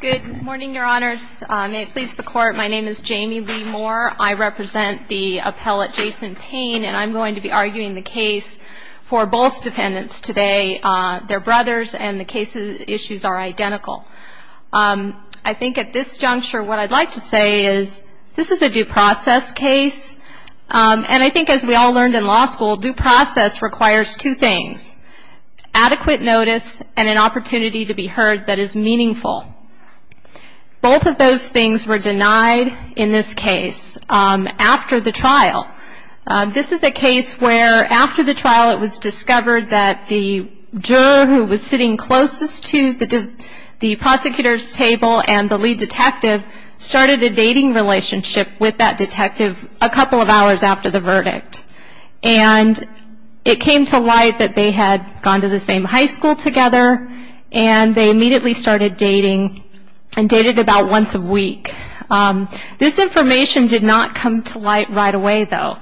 Good morning, your honors. May it please the court, my name is Jamie Lee Moore. I represent the appellate Jason Payne, and I'm going to be arguing the case for both defendants today. They're brothers, and the case issues are identical. I think at this juncture, what I'd like to say is this is a due process case, and I think as we all learned in law school, due process requires two things. Adequate notice, and an opportunity to be heard that is meaningful. Both of those things were denied in this case after the trial. This is a case where after the trial, it was discovered that the juror who was sitting closest to the prosecutor's table and the lead detective started a dating relationship with that detective a couple of hours after the verdict. And it came to light that they had gone to the same high school together, and they immediately started dating, and dated about once a week. This information did not come to light right away, though.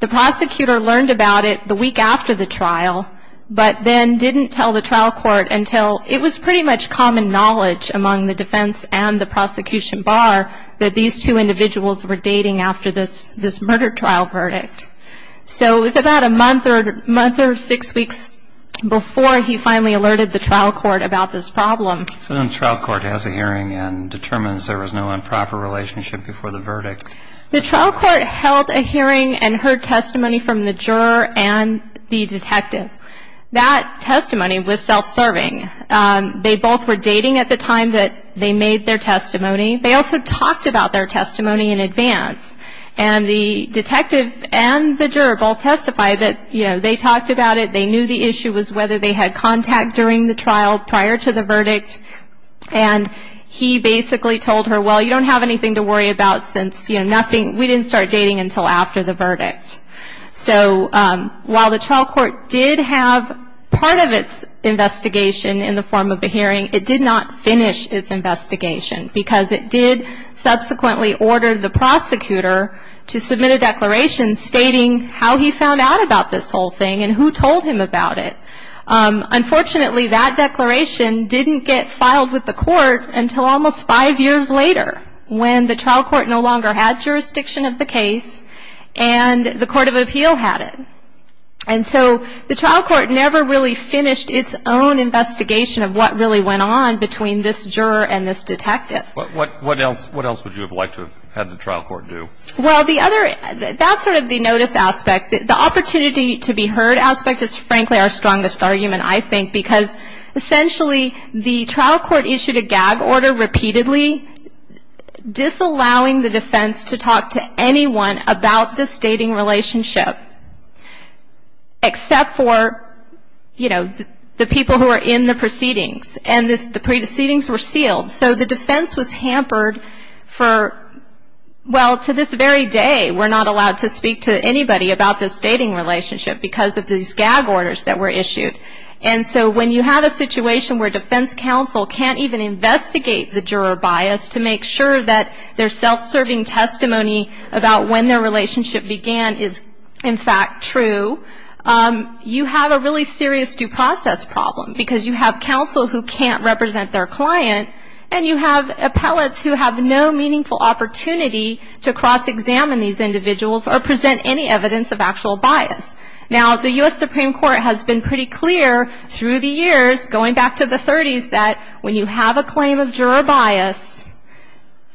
The prosecutor learned about it the week after the trial, but then didn't tell the trial court until it was pretty much common knowledge among the defense and the prosecution bar that these two individuals were dating after this murder trial verdict. So it was about a month or six weeks before he finally alerted the trial court about this problem. So then the trial court has a hearing and determines there was no improper relationship before the verdict. The trial court held a hearing and heard testimony from the juror and the detective. That testimony was self-serving. They both were dating at the time that they made their testimony. They also talked about their testimony in advance. And the detective and the juror both testified that, you know, they talked about it, they knew the issue was whether they had contact during the trial prior to the verdict, and he basically told her, well, you don't have anything to worry about since, you know, nothing, we didn't start dating until after the verdict. So while the trial court did have part of its investigation in the form of a hearing, it did not finish its investigation, because it did subsequently order the prosecutor to submit a declaration stating how he found out about this whole thing and who told him about it. Unfortunately, that declaration didn't get filed with the court until almost five years later, when the trial court no longer had jurisdiction of the case, and the court of appeal had it. And so the trial court never really finished its own investigation of what really went on between this juror and this detective. What else would you have liked to have had the trial court do? Well, the other, that's sort of the notice aspect. The opportunity to be heard aspect is frankly our strongest argument, I think, because essentially the trial court issued a gag order repeatedly disallowing the defense to talk to anyone about this dating relationship, except for, you know, the people who are in the proceedings. And the pre-deceitings were sealed. So the defense was hampered for, well, to this very day we're not allowed to speak to anybody about this dating relationship because of these gag orders that were issued. And so when you have a situation where defense counsel can't even investigate the juror bias to make sure that their self-serving testimony about when their relationship began is, in fact, true, you have a really serious due process problem, because you have counsel who can't cross-examine these individuals or present any evidence of actual bias. Now, the U.S. Supreme Court has been pretty clear through the years, going back to the 30s, that when you have a claim of juror bias,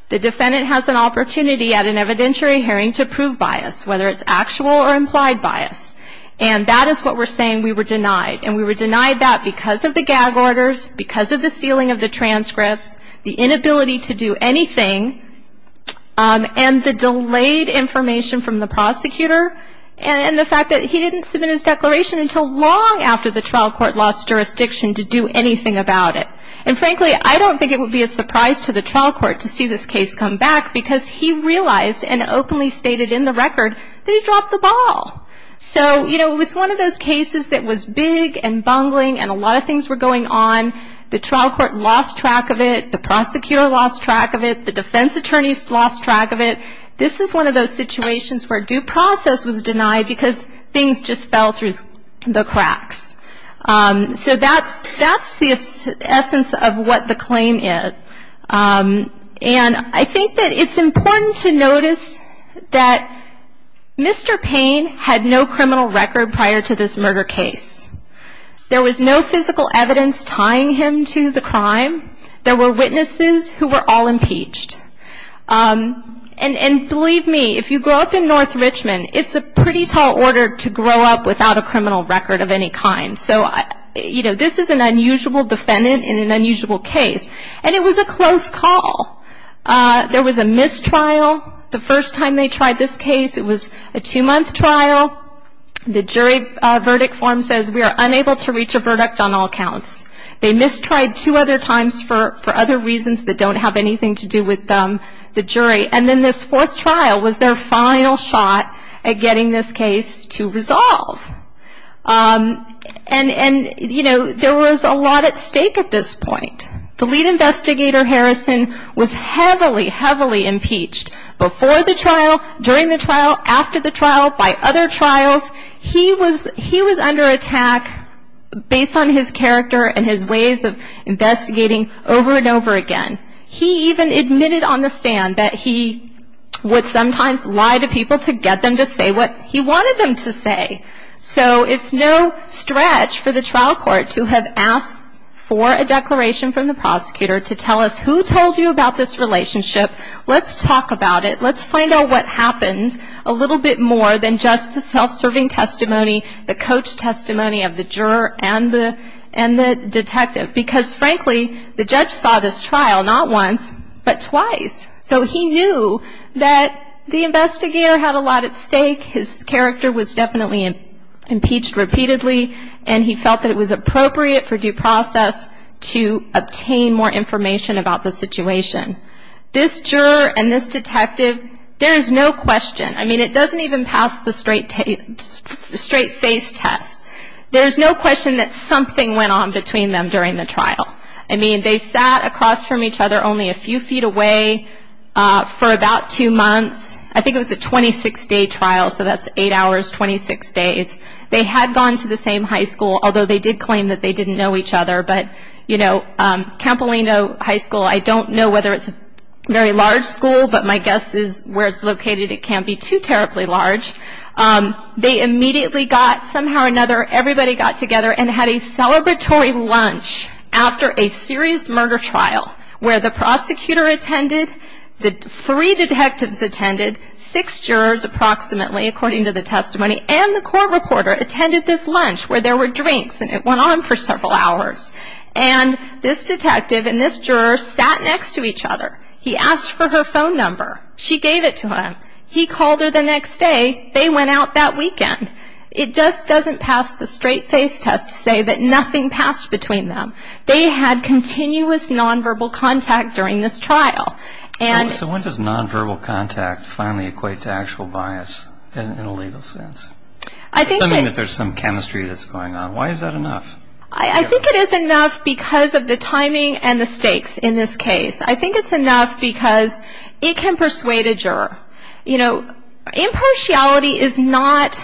the defendant has an opportunity at an evidentiary hearing to prove bias, whether it's actual or implied bias. And that is what we're saying we were denied. And we were denied that because of the gag orders, because of the sealing of the transcripts, the inability to do anything, and the delayed information from the prosecutor, and the fact that he didn't submit his declaration until long after the trial court lost jurisdiction to do anything about it. And, frankly, I don't think it would be a surprise to the trial court to see this case come back, because he realized and openly stated in the record that he dropped the ball. So, you know, it was one of those cases that was big and bungling and a lot of things were going on. The trial court lost track of it. The prosecutor lost track of it. The defense attorneys lost track of it. This is one of those situations where due process was denied because things just fell through the cracks. So that's the essence of what the claim is. And I think that it's important to notice that Mr. Payne had no criminal record prior to this crime. There were witnesses who were all impeached. And believe me, if you grow up in North Richmond, it's a pretty tall order to grow up without a criminal record of any kind. So, you know, this is an unusual defendant in an unusual case. And it was a close call. There was a mistrial the first time they tried this case. It was a two-month trial. The jury verdict form says we are unable to reach a verdict. And this tried two other times for other reasons that don't have anything to do with the jury. And then this fourth trial was their final shot at getting this case to resolve. And, you know, there was a lot at stake at this point. The lead investigator, Harrison, was heavily, heavily impeached before the trial, during the trial, after the trial, by other trials. He was under attack based on his character and his ways of investigating over and over again. He even admitted on the stand that he would sometimes lie to people to get them to say what he wanted them to say. So it's no stretch for the trial court to have asked for a declaration from the prosecutor to tell us who told you about this relationship. Let's talk about it. Let's find out what happened a little bit more than just the self-serving testimony, the coach testimony of the juror and the detective. Because, frankly, the judge saw this trial not once, but twice. So he knew that the investigator had a lot at stake. His character was definitely impeached repeatedly. And he felt that it was appropriate for due process to obtain more information about the situation. This juror and this detective, there's no question. I mean, it doesn't even pass the straight face test. There's no question that something went on between them during the trial. I mean, they sat across from each other only a few feet away for about two months. I think it was a 26-day trial, so that's eight hours, 26 days. They had gone to the same high school, although they did claim that they didn't know each other. But, you know, Campolino High School, I don't know whether it's a very large school, but my guess is where it's located it can't be too terribly large. They immediately got somehow or another, everybody got together and had a celebratory lunch after a serious murder trial where the prosecutor attended, the three detectives attended, six jurors approximately, according to the testimony, and the court reporter attended this lunch where there were drinks and it went on for several hours. And this detective and this juror sat next to each other. He asked for her phone number. She gave it to him. He called her the next day. They went out that weekend. It just doesn't pass the straight face test to say that nothing passed between them. They had continuous nonverbal contact during this trial. So when does nonverbal contact finally equate to actual bias in a legal sense? Assuming that there's some chemistry that's going on, why is that enough? I think it is enough because of the timing and the stakes in this case. I think it's enough because it can persuade a juror. You know, impartiality is not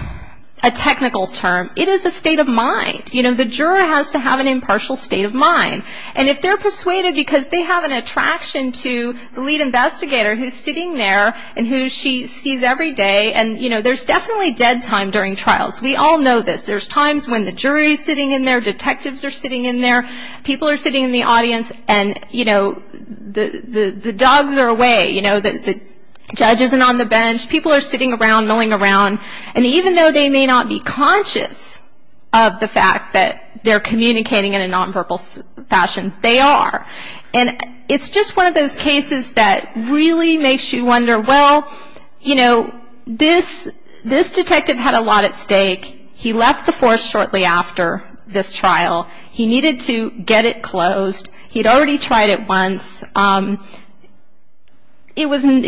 a technical term. It is a state of mind. You know, the juror has to have an impartial state of mind. And if they're persuaded because they have an attraction to the lead investigator who's sitting there and who she sees every day. And, you know, there's definitely dead time during trials. We all know this. There's times when the jury's sitting in there, detectives are sitting in there, people are sitting in the audience, and, you know, the dogs are away. You know, the judge isn't on the bench. People are sitting around milling around. And even though they may not be conscious of the fact that they're communicating in a nonverbal fashion, they are. And it's just one of those cases that really makes you wonder, well, you know, this detective had a lot at stake. He left the force shortly after this trial. He needed to get it closed. He'd already tried it once. It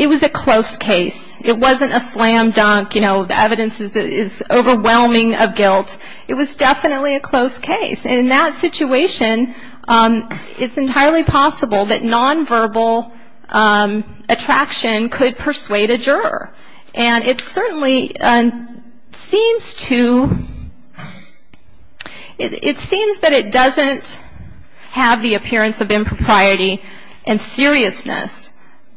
was a close case. It wasn't a slam dunk. You know, the evidence is overwhelming of guilt. It was definitely a close case. And in that situation, it's entirely possible that nonverbal attraction could persuade a juror. And it certainly seems to, it seems that it doesn't have the appearance of impropriety and seriousness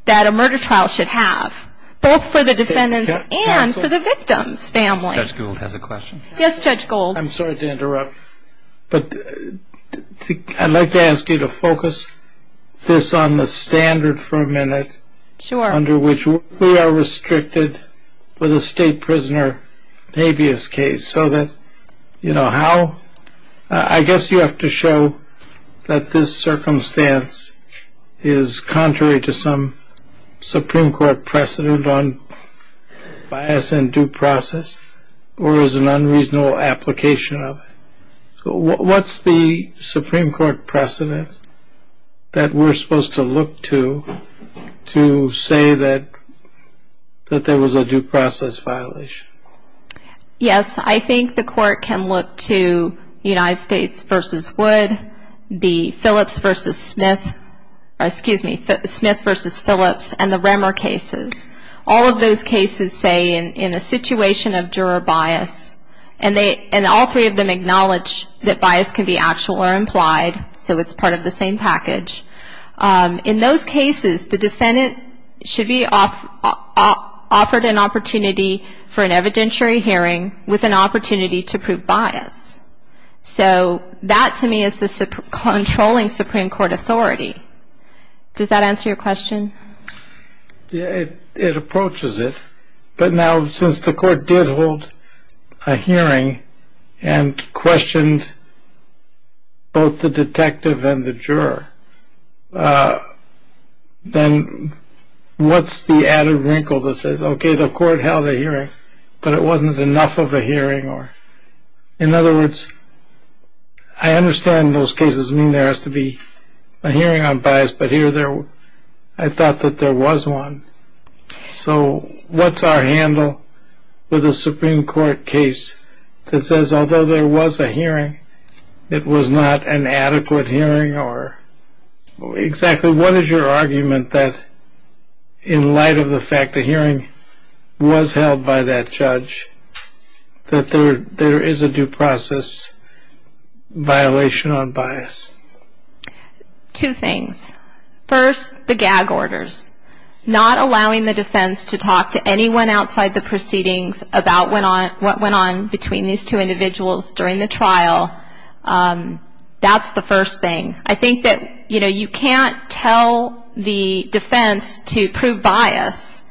that a murder trial should have, both for the defendants and for the victim's family. Judge Gould has a question. Yes, Judge Gould. I'm sorry to interrupt, but I'd like to ask you to focus this on the standard for a minute. Sure. Under which we are restricted with a state prisoner habeas case so that you know how. I guess you have to show that this circumstance is contrary to some Supreme Court precedent on bias and due process or is an unreasonable application of it. What's the Supreme Court precedent that we're supposed to look to to say that there was a due process violation? Yes, I think the court can look to United States v. Wood, the Phillips v. Smith, or excuse me, Smith v. Phillips and the Remmer cases. All of those cases say in a situation of juror bias, and all three of them acknowledge that bias can be actual or implied, so it's part of the same package. In those cases, the defendant should be offered an opportunity for an evidentiary hearing with an opportunity to prove bias. So that to me is the controlling Supreme Court authority. Does that answer your question? It approaches it, but now since the court did hold a hearing and questioned both the detective and the juror, then what's the added wrinkle that says, okay, the court held a hearing, but it wasn't enough of a hearing? In other words, I understand those cases mean there has to be a hearing on bias, but here I thought that there was one. So what's our handle with a Supreme Court case that says, although there was a hearing, it was not an adequate hearing? Or exactly what is your argument that in light of the fact a hearing was held by that judge, that there is a due process violation on bias? Two things. First, the gag orders. Not allowing the defense to talk to anyone outside the proceedings about what went on between these two individuals during the trial, that's the first thing. I think that you can't tell the defense to prove bias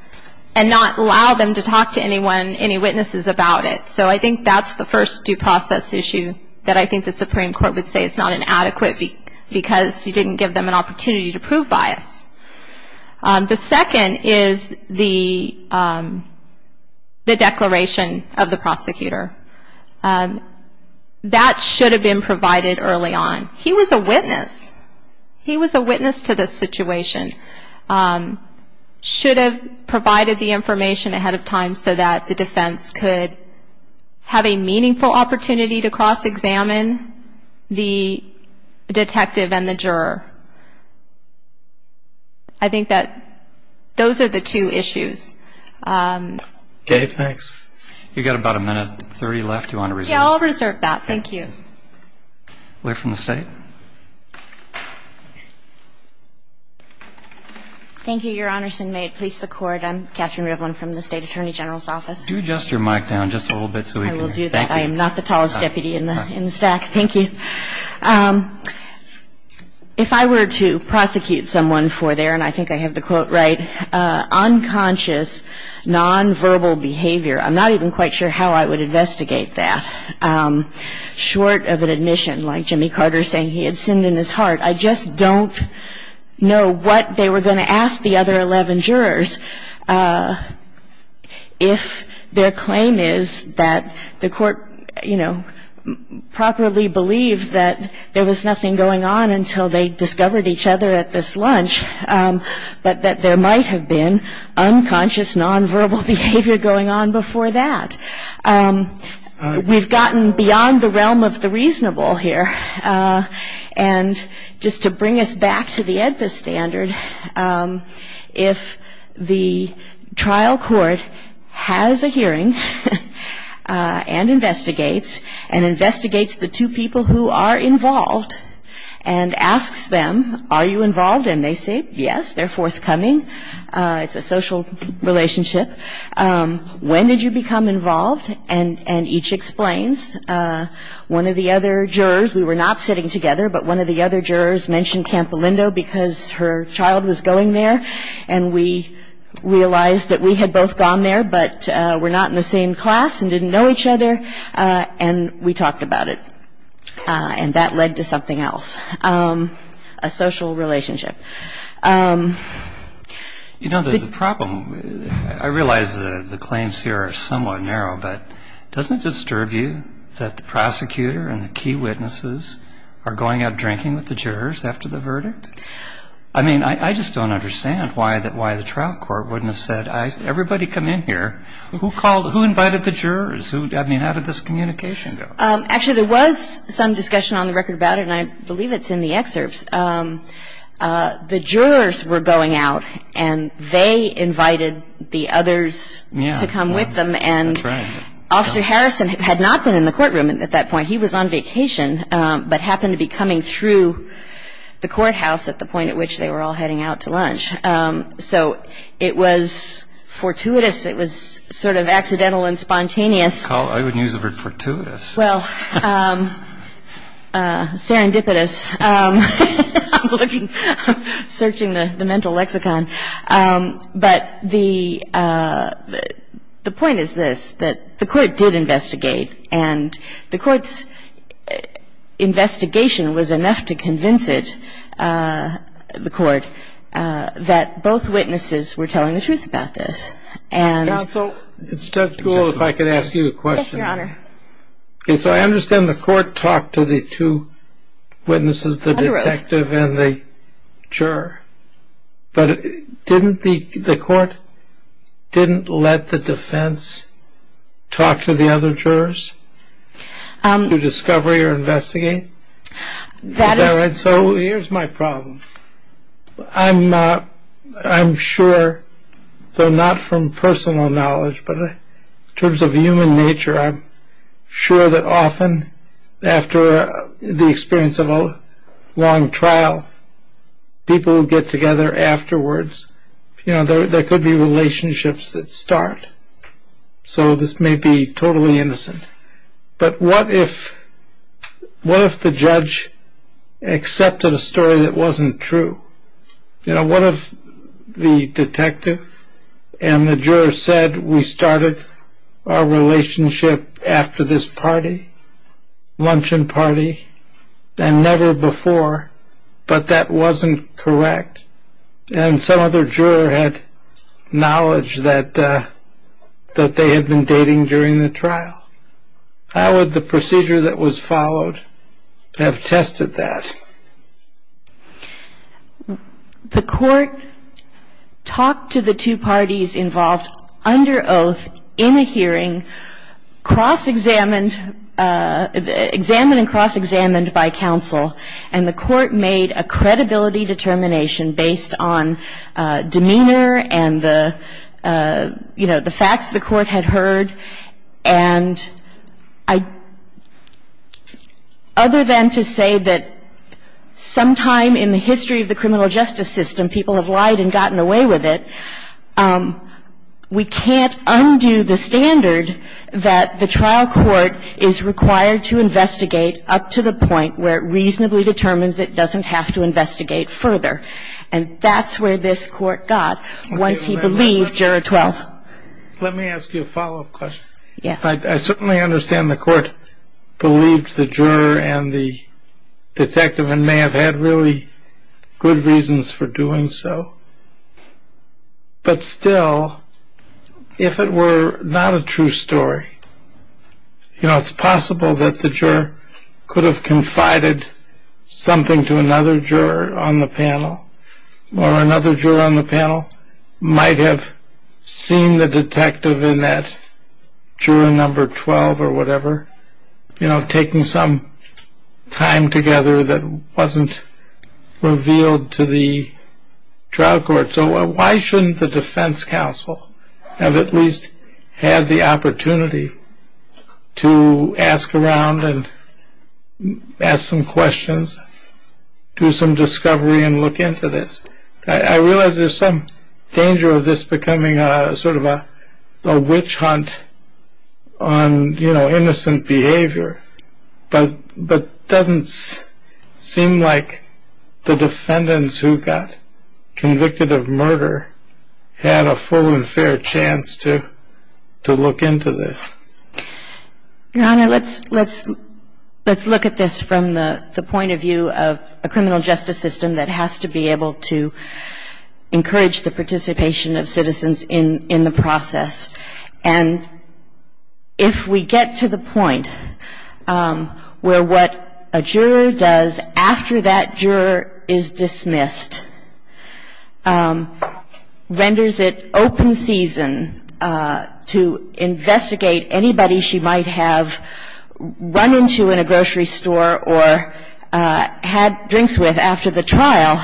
and not allow them to talk to anyone, any witnesses about it. So I think that's the first due process issue that I think the Supreme Court would say it's not an adequate because you didn't give them an opportunity to prove bias. The second is the declaration of the prosecutor. That should have been provided early on. He was a witness. He was a witness to the situation. Should have provided the information ahead of time so that the defense could have a meaningful opportunity to cross-examine the detective and the juror. I think that those are the two issues. Dave, thanks. You've got about a minute and 30 left. Do you want to reserve that? Yeah, I'll reserve that. Thank you. We're from the state. Thank you, Your Honors. And may it please the Court, I'm Katherine Rivlin from the State Attorney General's Office. Could you adjust your mic down just a little bit so we can hear you? I will do that. I am not the tallest deputy in the stack. Thank you. If I were to prosecute someone for their, and I think I have the quote right, unconscious, nonverbal behavior, I'm not even quite sure how I would investigate that, short of an admission like Jimmy Carter saying he had sinned in his heart. I just don't know what they were going to ask the other 11 jurors if their claim is that the court, you know, properly believed that there was nothing going on until they discovered each other at this lunch, but that there might have been unconscious, nonverbal behavior going on before that. We've gotten beyond the realm of the reasonable here. And just to bring us back to the AEDPA standard, if the trial court has a hearing and investigates and investigates the two people who are involved and asks them, are you involved? And they say, yes, they're forthcoming. It's a social relationship. When did you become involved? And each explains. One of the other jurors, we were not sitting together, but one of the other jurors mentioned Campolindo because her child was going there. And we realized that we had both gone there, but were not in the same class and didn't know each other. And we talked about it. And that led to something else, a social relationship. You know, the problem, I realize that the claims here are somewhat narrow, but doesn't it disturb you that the prosecutor and the key witnesses are going out drinking with the jurors after the verdict? I mean, I just don't understand why the trial court wouldn't have said, everybody come in here. Who invited the jurors? I mean, how did this communication go? Actually, there was some discussion on the record about it, and I believe it's in the excerpts. The jurors were going out, and they invited the others to come with them. And Officer Harrison had not been in the courtroom at that point. He was on vacation, but happened to be coming through the courthouse at the point at which they were all heading out to lunch. So it was fortuitous. It was sort of accidental and spontaneous. I wouldn't use the word fortuitous. Well, serendipitous. I'm searching the mental lexicon. But the point is this, that the Court did investigate, and the Court's investigation was enough to convince it, the Court, that both witnesses were telling the truth about this. Counsel, it's just cool if I could ask you a question. Your Honor. So I understand the Court talked to the two witnesses, the detective and the juror. But didn't the Court let the defense talk to the other jurors to discover or investigate? Is that right? So here's my problem. I'm sure, though not from personal knowledge, but in terms of human nature I'm sure that often after the experience of a long trial, people will get together afterwards. There could be relationships that start. So this may be totally innocent. But what if the judge accepted a story that wasn't true? What if the detective and the juror said we started our relationship after this party, luncheon party, and never before, but that wasn't correct, and some other juror had knowledge that they had been dating during the trial? How would the procedure that was followed have tested that? The Court talked to the two parties involved under oath in a hearing, cross-examined by counsel, and the Court made a credibility determination based on demeanor and the facts the Court had heard. And other than to say that sometime in the history of the criminal justice system people have lied and gotten away with it, we can't undo the standard that the trial court is required to investigate up to the point where it reasonably determines it doesn't have to investigate further. And that's where this Court got once he believed Juror 12. Let me ask you a follow-up question. Yes. I certainly understand the Court believed the juror and the detective and may have had really good reasons for doing so. It's possible that the juror could have confided something to another juror on the panel or another juror on the panel might have seen the detective in that juror number 12 or whatever, you know, taking some time together that wasn't revealed to the trial court. So why shouldn't the defense counsel have at least had the opportunity to ask around and ask some questions, do some discovery and look into this? I realize there's some danger of this becoming sort of a witch hunt on, you know, innocent behavior, but it doesn't seem like the defendants who got convicted of murder had a full and fair chance to look into this. Your Honor, let's look at this from the point of view of a criminal justice system that has to be able to encourage the participation of citizens in the process. And if we get to the point where what a juror does after that juror is dismissed renders it open season to investigate anybody she might have run into in a grocery store or had drinks with after the trial,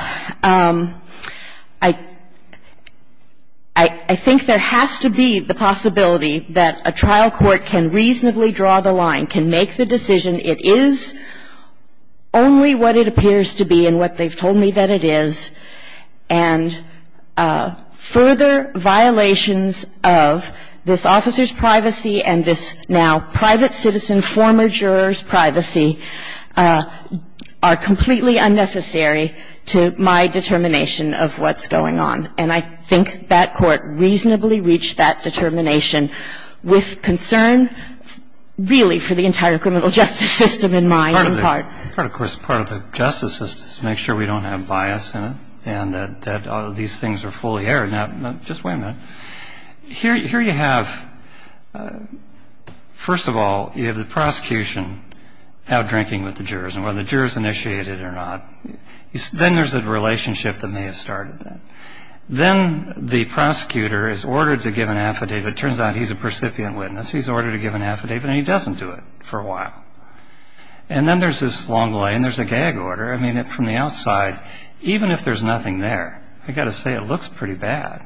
I think there has to be the possibility that a trial court can reasonably draw the line, can make the decision it is only what it appears to be and what they've told me that it is, and further violations of this officer's privacy and this now private citizen, former juror's privacy are completely unnecessary to my determination of what's going on. And I think that court reasonably reached that determination with concern really for the entire criminal justice system in my own part. But of course part of the justice system is to make sure we don't have bias in it and that these things are fully aired. Now, just wait a minute. Here you have, first of all, you have the prosecution out drinking with the jurors. And whether the jurors initiated it or not, then there's a relationship that may have started that. Then the prosecutor is ordered to give an affidavit. It turns out he's a precipient witness. He's ordered to give an affidavit and he doesn't do it for a while. And then there's this long line. There's a gag order. I mean, from the outside, even if there's nothing there, I've got to say it looks pretty bad.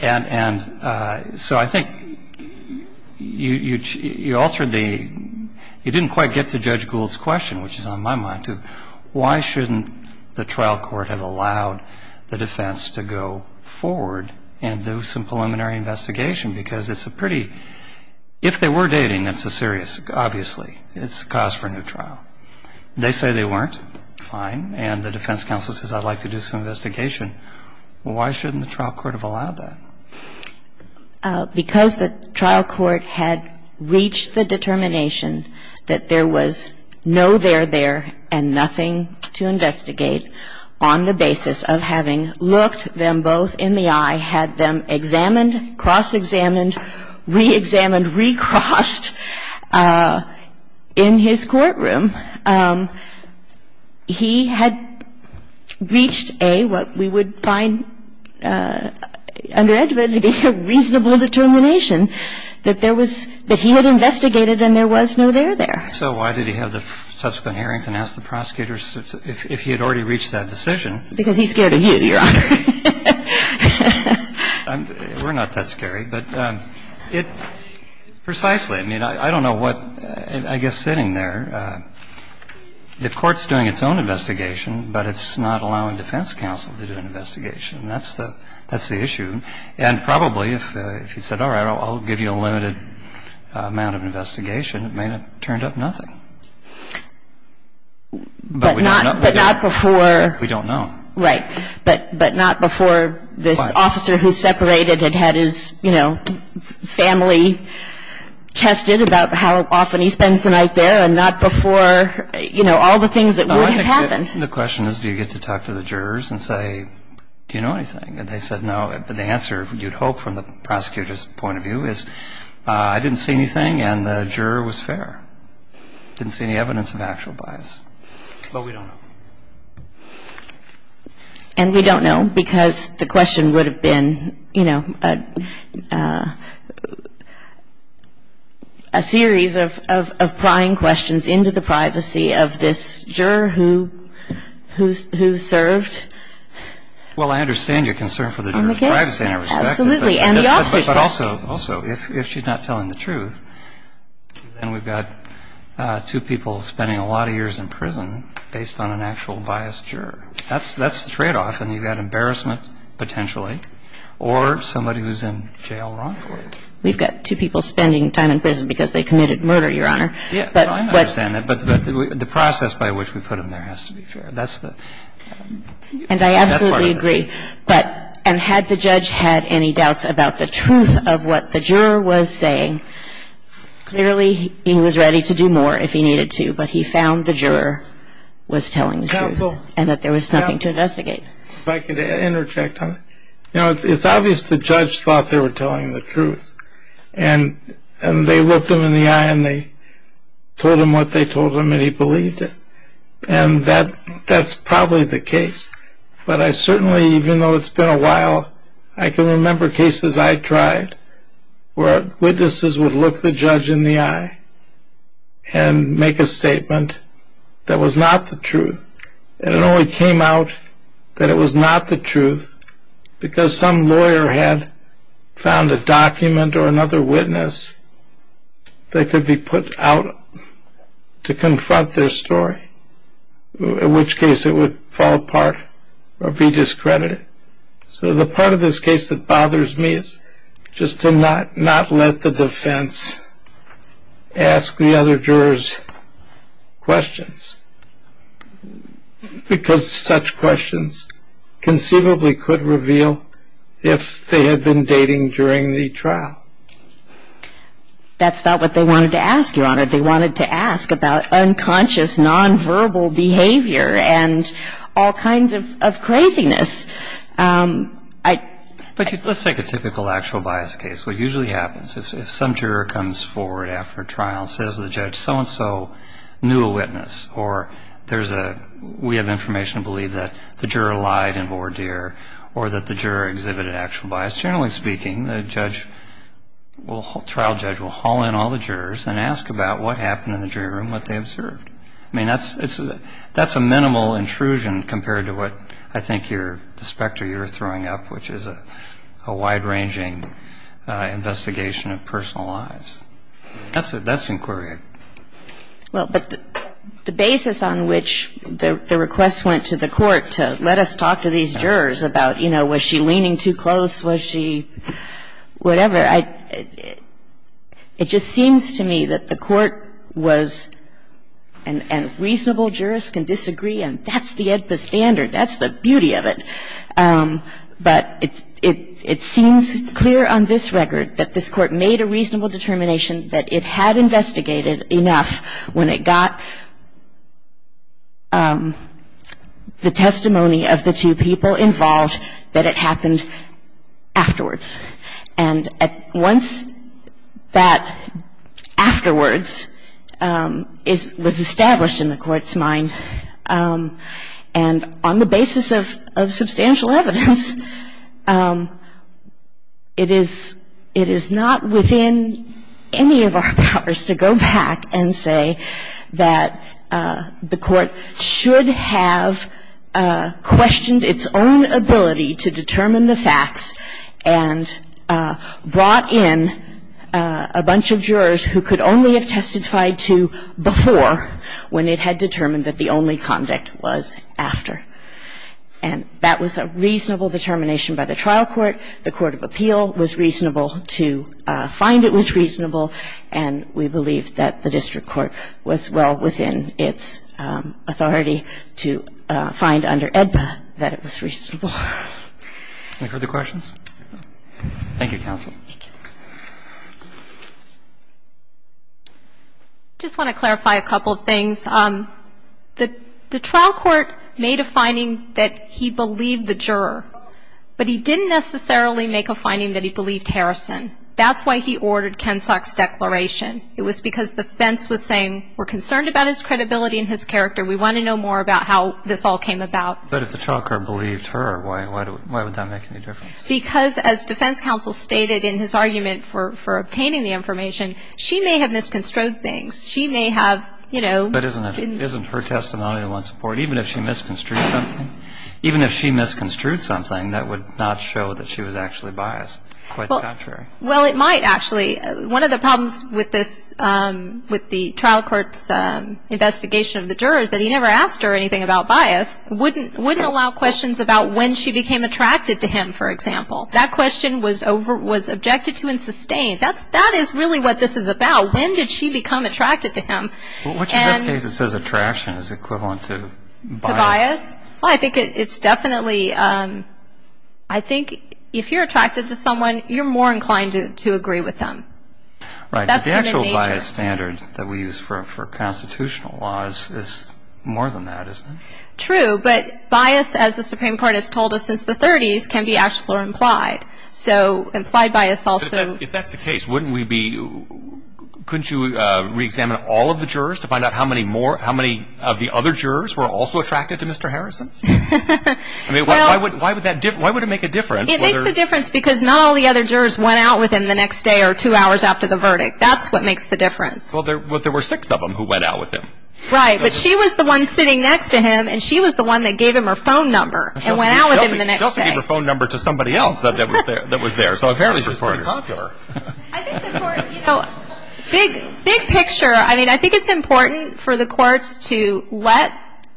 And so I think you altered the – you didn't quite get to Judge Gould's question, which is on my mind, to why shouldn't the trial court have allowed the defense to go forward and do some preliminary investigation because it's a pretty – if they were dating, it's a serious – obviously, it's a cause for a new trial. They say they weren't. Fine. And the defense counsel says, I'd like to do some investigation. Well, why shouldn't the trial court have allowed that? Because the trial court had reached the determination that there was no there there and nothing to investigate on the basis of having looked them both in the eye, had them examined, cross-examined, re-examined, recrossed in his courtroom. He had reached a, what we would find under Edwin, a reasonable determination that there was – that he had investigated and there was no there there. So why did he have the subsequent hearings and ask the prosecutors if he had already reached that decision? Because he's scared of you, Your Honor. We're not that scary. But it – precisely. I mean, I don't know what – I guess sitting there, the court's doing its own investigation, but it's not allowing defense counsel to do an investigation. That's the – that's the issue. And probably if he said, all right, I'll give you a limited amount of investigation, it may have turned up nothing. But we don't know. But not before – We don't know. Right. But not before this officer who's separated had had his, you know, family tested about how often he spends the night there and not before, you know, all the things that would have happened. The question is, do you get to talk to the jurors and say, do you know anything? And they said no. But the answer, you'd hope from the prosecutor's point of view, is I didn't see anything and the juror was fair. Didn't see any evidence of actual bias. But we don't know. And we don't know because the question would have been, you know, a series of prying questions into the privacy of this juror who served on the case. Well, I understand your concern for the juror's privacy, and I respect it. Absolutely. And the officer's privacy. But also, if she's not telling the truth, then we've got two people spending a lot of years in prison based on an actual biased juror. That's the tradeoff. And you've got embarrassment, potentially, or somebody who's in jail wrongfully. We've got two people spending time in prison because they committed murder, Your Honor. Yeah. But I understand that. But the process by which we put them there has to be fair. That's the part of it. And I absolutely agree. And had the judge had any doubts about the truth of what the juror was saying, clearly he was ready to do more if he needed to. But he found the juror was telling the truth and that there was nothing to investigate. Counsel, if I could interject on it. You know, it's obvious the judge thought they were telling the truth. And they looked him in the eye and they told him what they told him, and he believed it. And that's probably the case. But I certainly, even though it's been a while, I can remember cases I tried where witnesses would look the judge in the eye and make a statement that was not the truth. And it only came out that it was not the truth because some lawyer had found a document or another witness that could be put out to confront their story, in which case it would fall apart or be discredited. So the part of this case that bothers me is just to not let the defense ask the other jurors questions because such questions conceivably could reveal if they had been dating during the trial. That's not what they wanted to ask, Your Honor. They wanted to ask about unconscious, nonverbal behavior and all kinds of craziness. But let's take a typical actual bias case. What usually happens is if some juror comes forward after a trial and says the judge so-and-so knew a witness or there's a way of information to believe that the juror lied in voir dire or that the juror exhibited actual bias, generally speaking, the trial judge will haul in all the jurors and ask about what happened in the jury room, what they observed. I mean, that's a minimal intrusion compared to what I think the specter you're throwing up, which is a wide-ranging investigation of personal lives. That's inquiry. Well, but the basis on which the request went to the court to let us talk to these jurors about, you know, was she leaning too close? Was she whatever? It just seems to me that the court was a reasonable jurist can disagree, and that's the standard. That's the beauty of it. But it seems clear on this record that this court made a reasonable determination that it had investigated enough when it got the testimony of the two people involved that it happened afterwards. And once that afterwards was established in the court's mind, and on the basis of substantial evidence, it is not within any of our powers to go back and say that the court should have questioned its own ability to determine the facts and brought in a bunch of jurors who could only have testified to before when it had determined that the only conduct was after. And that was a reasonable determination by the trial court. The court of appeal was reasonable to find it was reasonable, and we believe that the district court was well within its authority to find under AEDPA that it was reasonable. Any further questions? Thank you, counsel. Thank you. Just want to clarify a couple of things. The trial court made a finding that he believed the juror, but he didn't necessarily make a finding that he believed Harrison. That's why he ordered Kensock's declaration. It was because defense was saying we're concerned about his credibility and his character. We want to know more about how this all came about. But if the trial court believed her, why would that make any difference? Because as defense counsel stated in his argument for obtaining the information, she may have misconstrued things. She may have, you know. But isn't her testimony the one support, even if she misconstrued something? Even if she misconstrued something, that would not show that she was actually biased. Quite the contrary. Well, it might actually. One of the problems with this, with the trial court's investigation of the jurors, that he never asked her anything about bias, wouldn't allow questions about when she became attracted to him, for example. That question was objected to and sustained. That is really what this is about. When did she become attracted to him? Which, in this case, it says attraction is equivalent to bias. Well, I think it's definitely. I think if you're attracted to someone, you're more inclined to agree with them. Right, but the actual bias standard that we use for constitutional laws is more than that, isn't it? True, but bias, as the Supreme Court has told us since the 30s, can be actual or implied. So, implied bias also. If that's the case, wouldn't we be, couldn't you reexamine all of the jurors to find out how many of the other jurors were also attracted to Mr. Harrison? I mean, why would that make a difference? It makes a difference because not all the other jurors went out with him the next day or two hours after the verdict. That's what makes the difference. Well, there were six of them who went out with him. Right, but she was the one sitting next to him, and she was the one that gave him her phone number and went out with him the next day. She doesn't give her phone number to somebody else that was there. So, apparently, she's pretty popular. I think the court, you know, big picture. I mean, I think it's important for the courts to let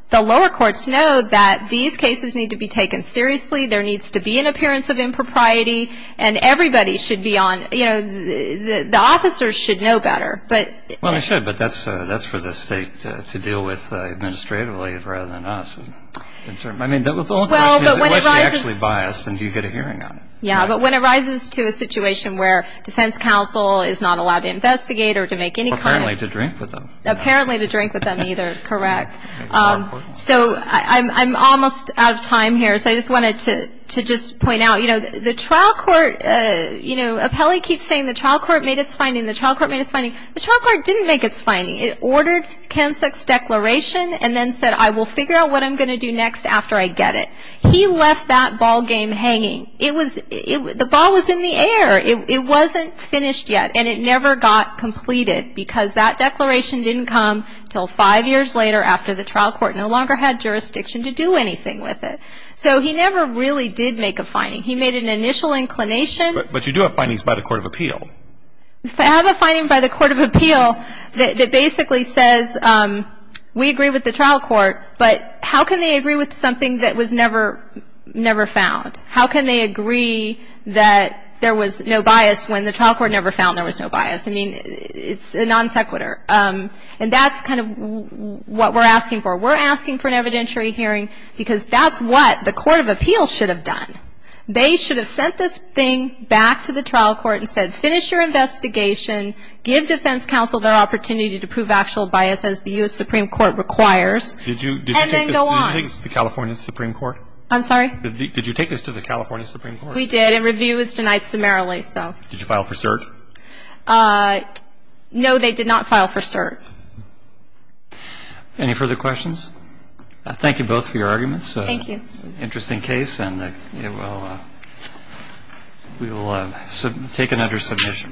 the lower courts know that these cases need to be taken seriously. There needs to be an appearance of impropriety, and everybody should be on, you know, the officers should know better. Well, they should, but that's for the state to deal with administratively rather than us. I mean, the only question is, what if you're actually biased, and do you get a hearing on it? Yeah, but when it rises to a situation where defense counsel is not allowed to investigate or to make any kind of... Or apparently to drink with them. Apparently to drink with them either. Correct. So, I'm almost out of time here, so I just wanted to just point out, you know, the trial court, you know, the trial court didn't make its finding. It ordered Kansak's declaration and then said, I will figure out what I'm going to do next after I get it. He left that ballgame hanging. It was... The ball was in the air. It wasn't finished yet, and it never got completed, because that declaration didn't come until five years later after the trial court no longer had jurisdiction to do anything with it. So, he never really did make a finding. He made an initial inclination. But you do have findings by the Court of Appeal. I have a finding by the Court of Appeal that basically says, we agree with the trial court, but how can they agree with something that was never found? How can they agree that there was no bias when the trial court never found there was no bias? I mean, it's a non sequitur. And that's kind of what we're asking for. We're asking for an evidentiary hearing because that's what the Court of Appeal should have done. They should have sent this thing back to the trial court and said, finish your investigation, give defense counsel their opportunity to prove actual bias as the U.S. Supreme Court requires, and then go on. Did you take this to the California Supreme Court? I'm sorry? Did you take this to the California Supreme Court? We did, and review was denied summarily, so. Did you file for cert? No, they did not file for cert. Any further questions? Thank you both for your arguments. Thank you. Interesting case, and we will take it under submission.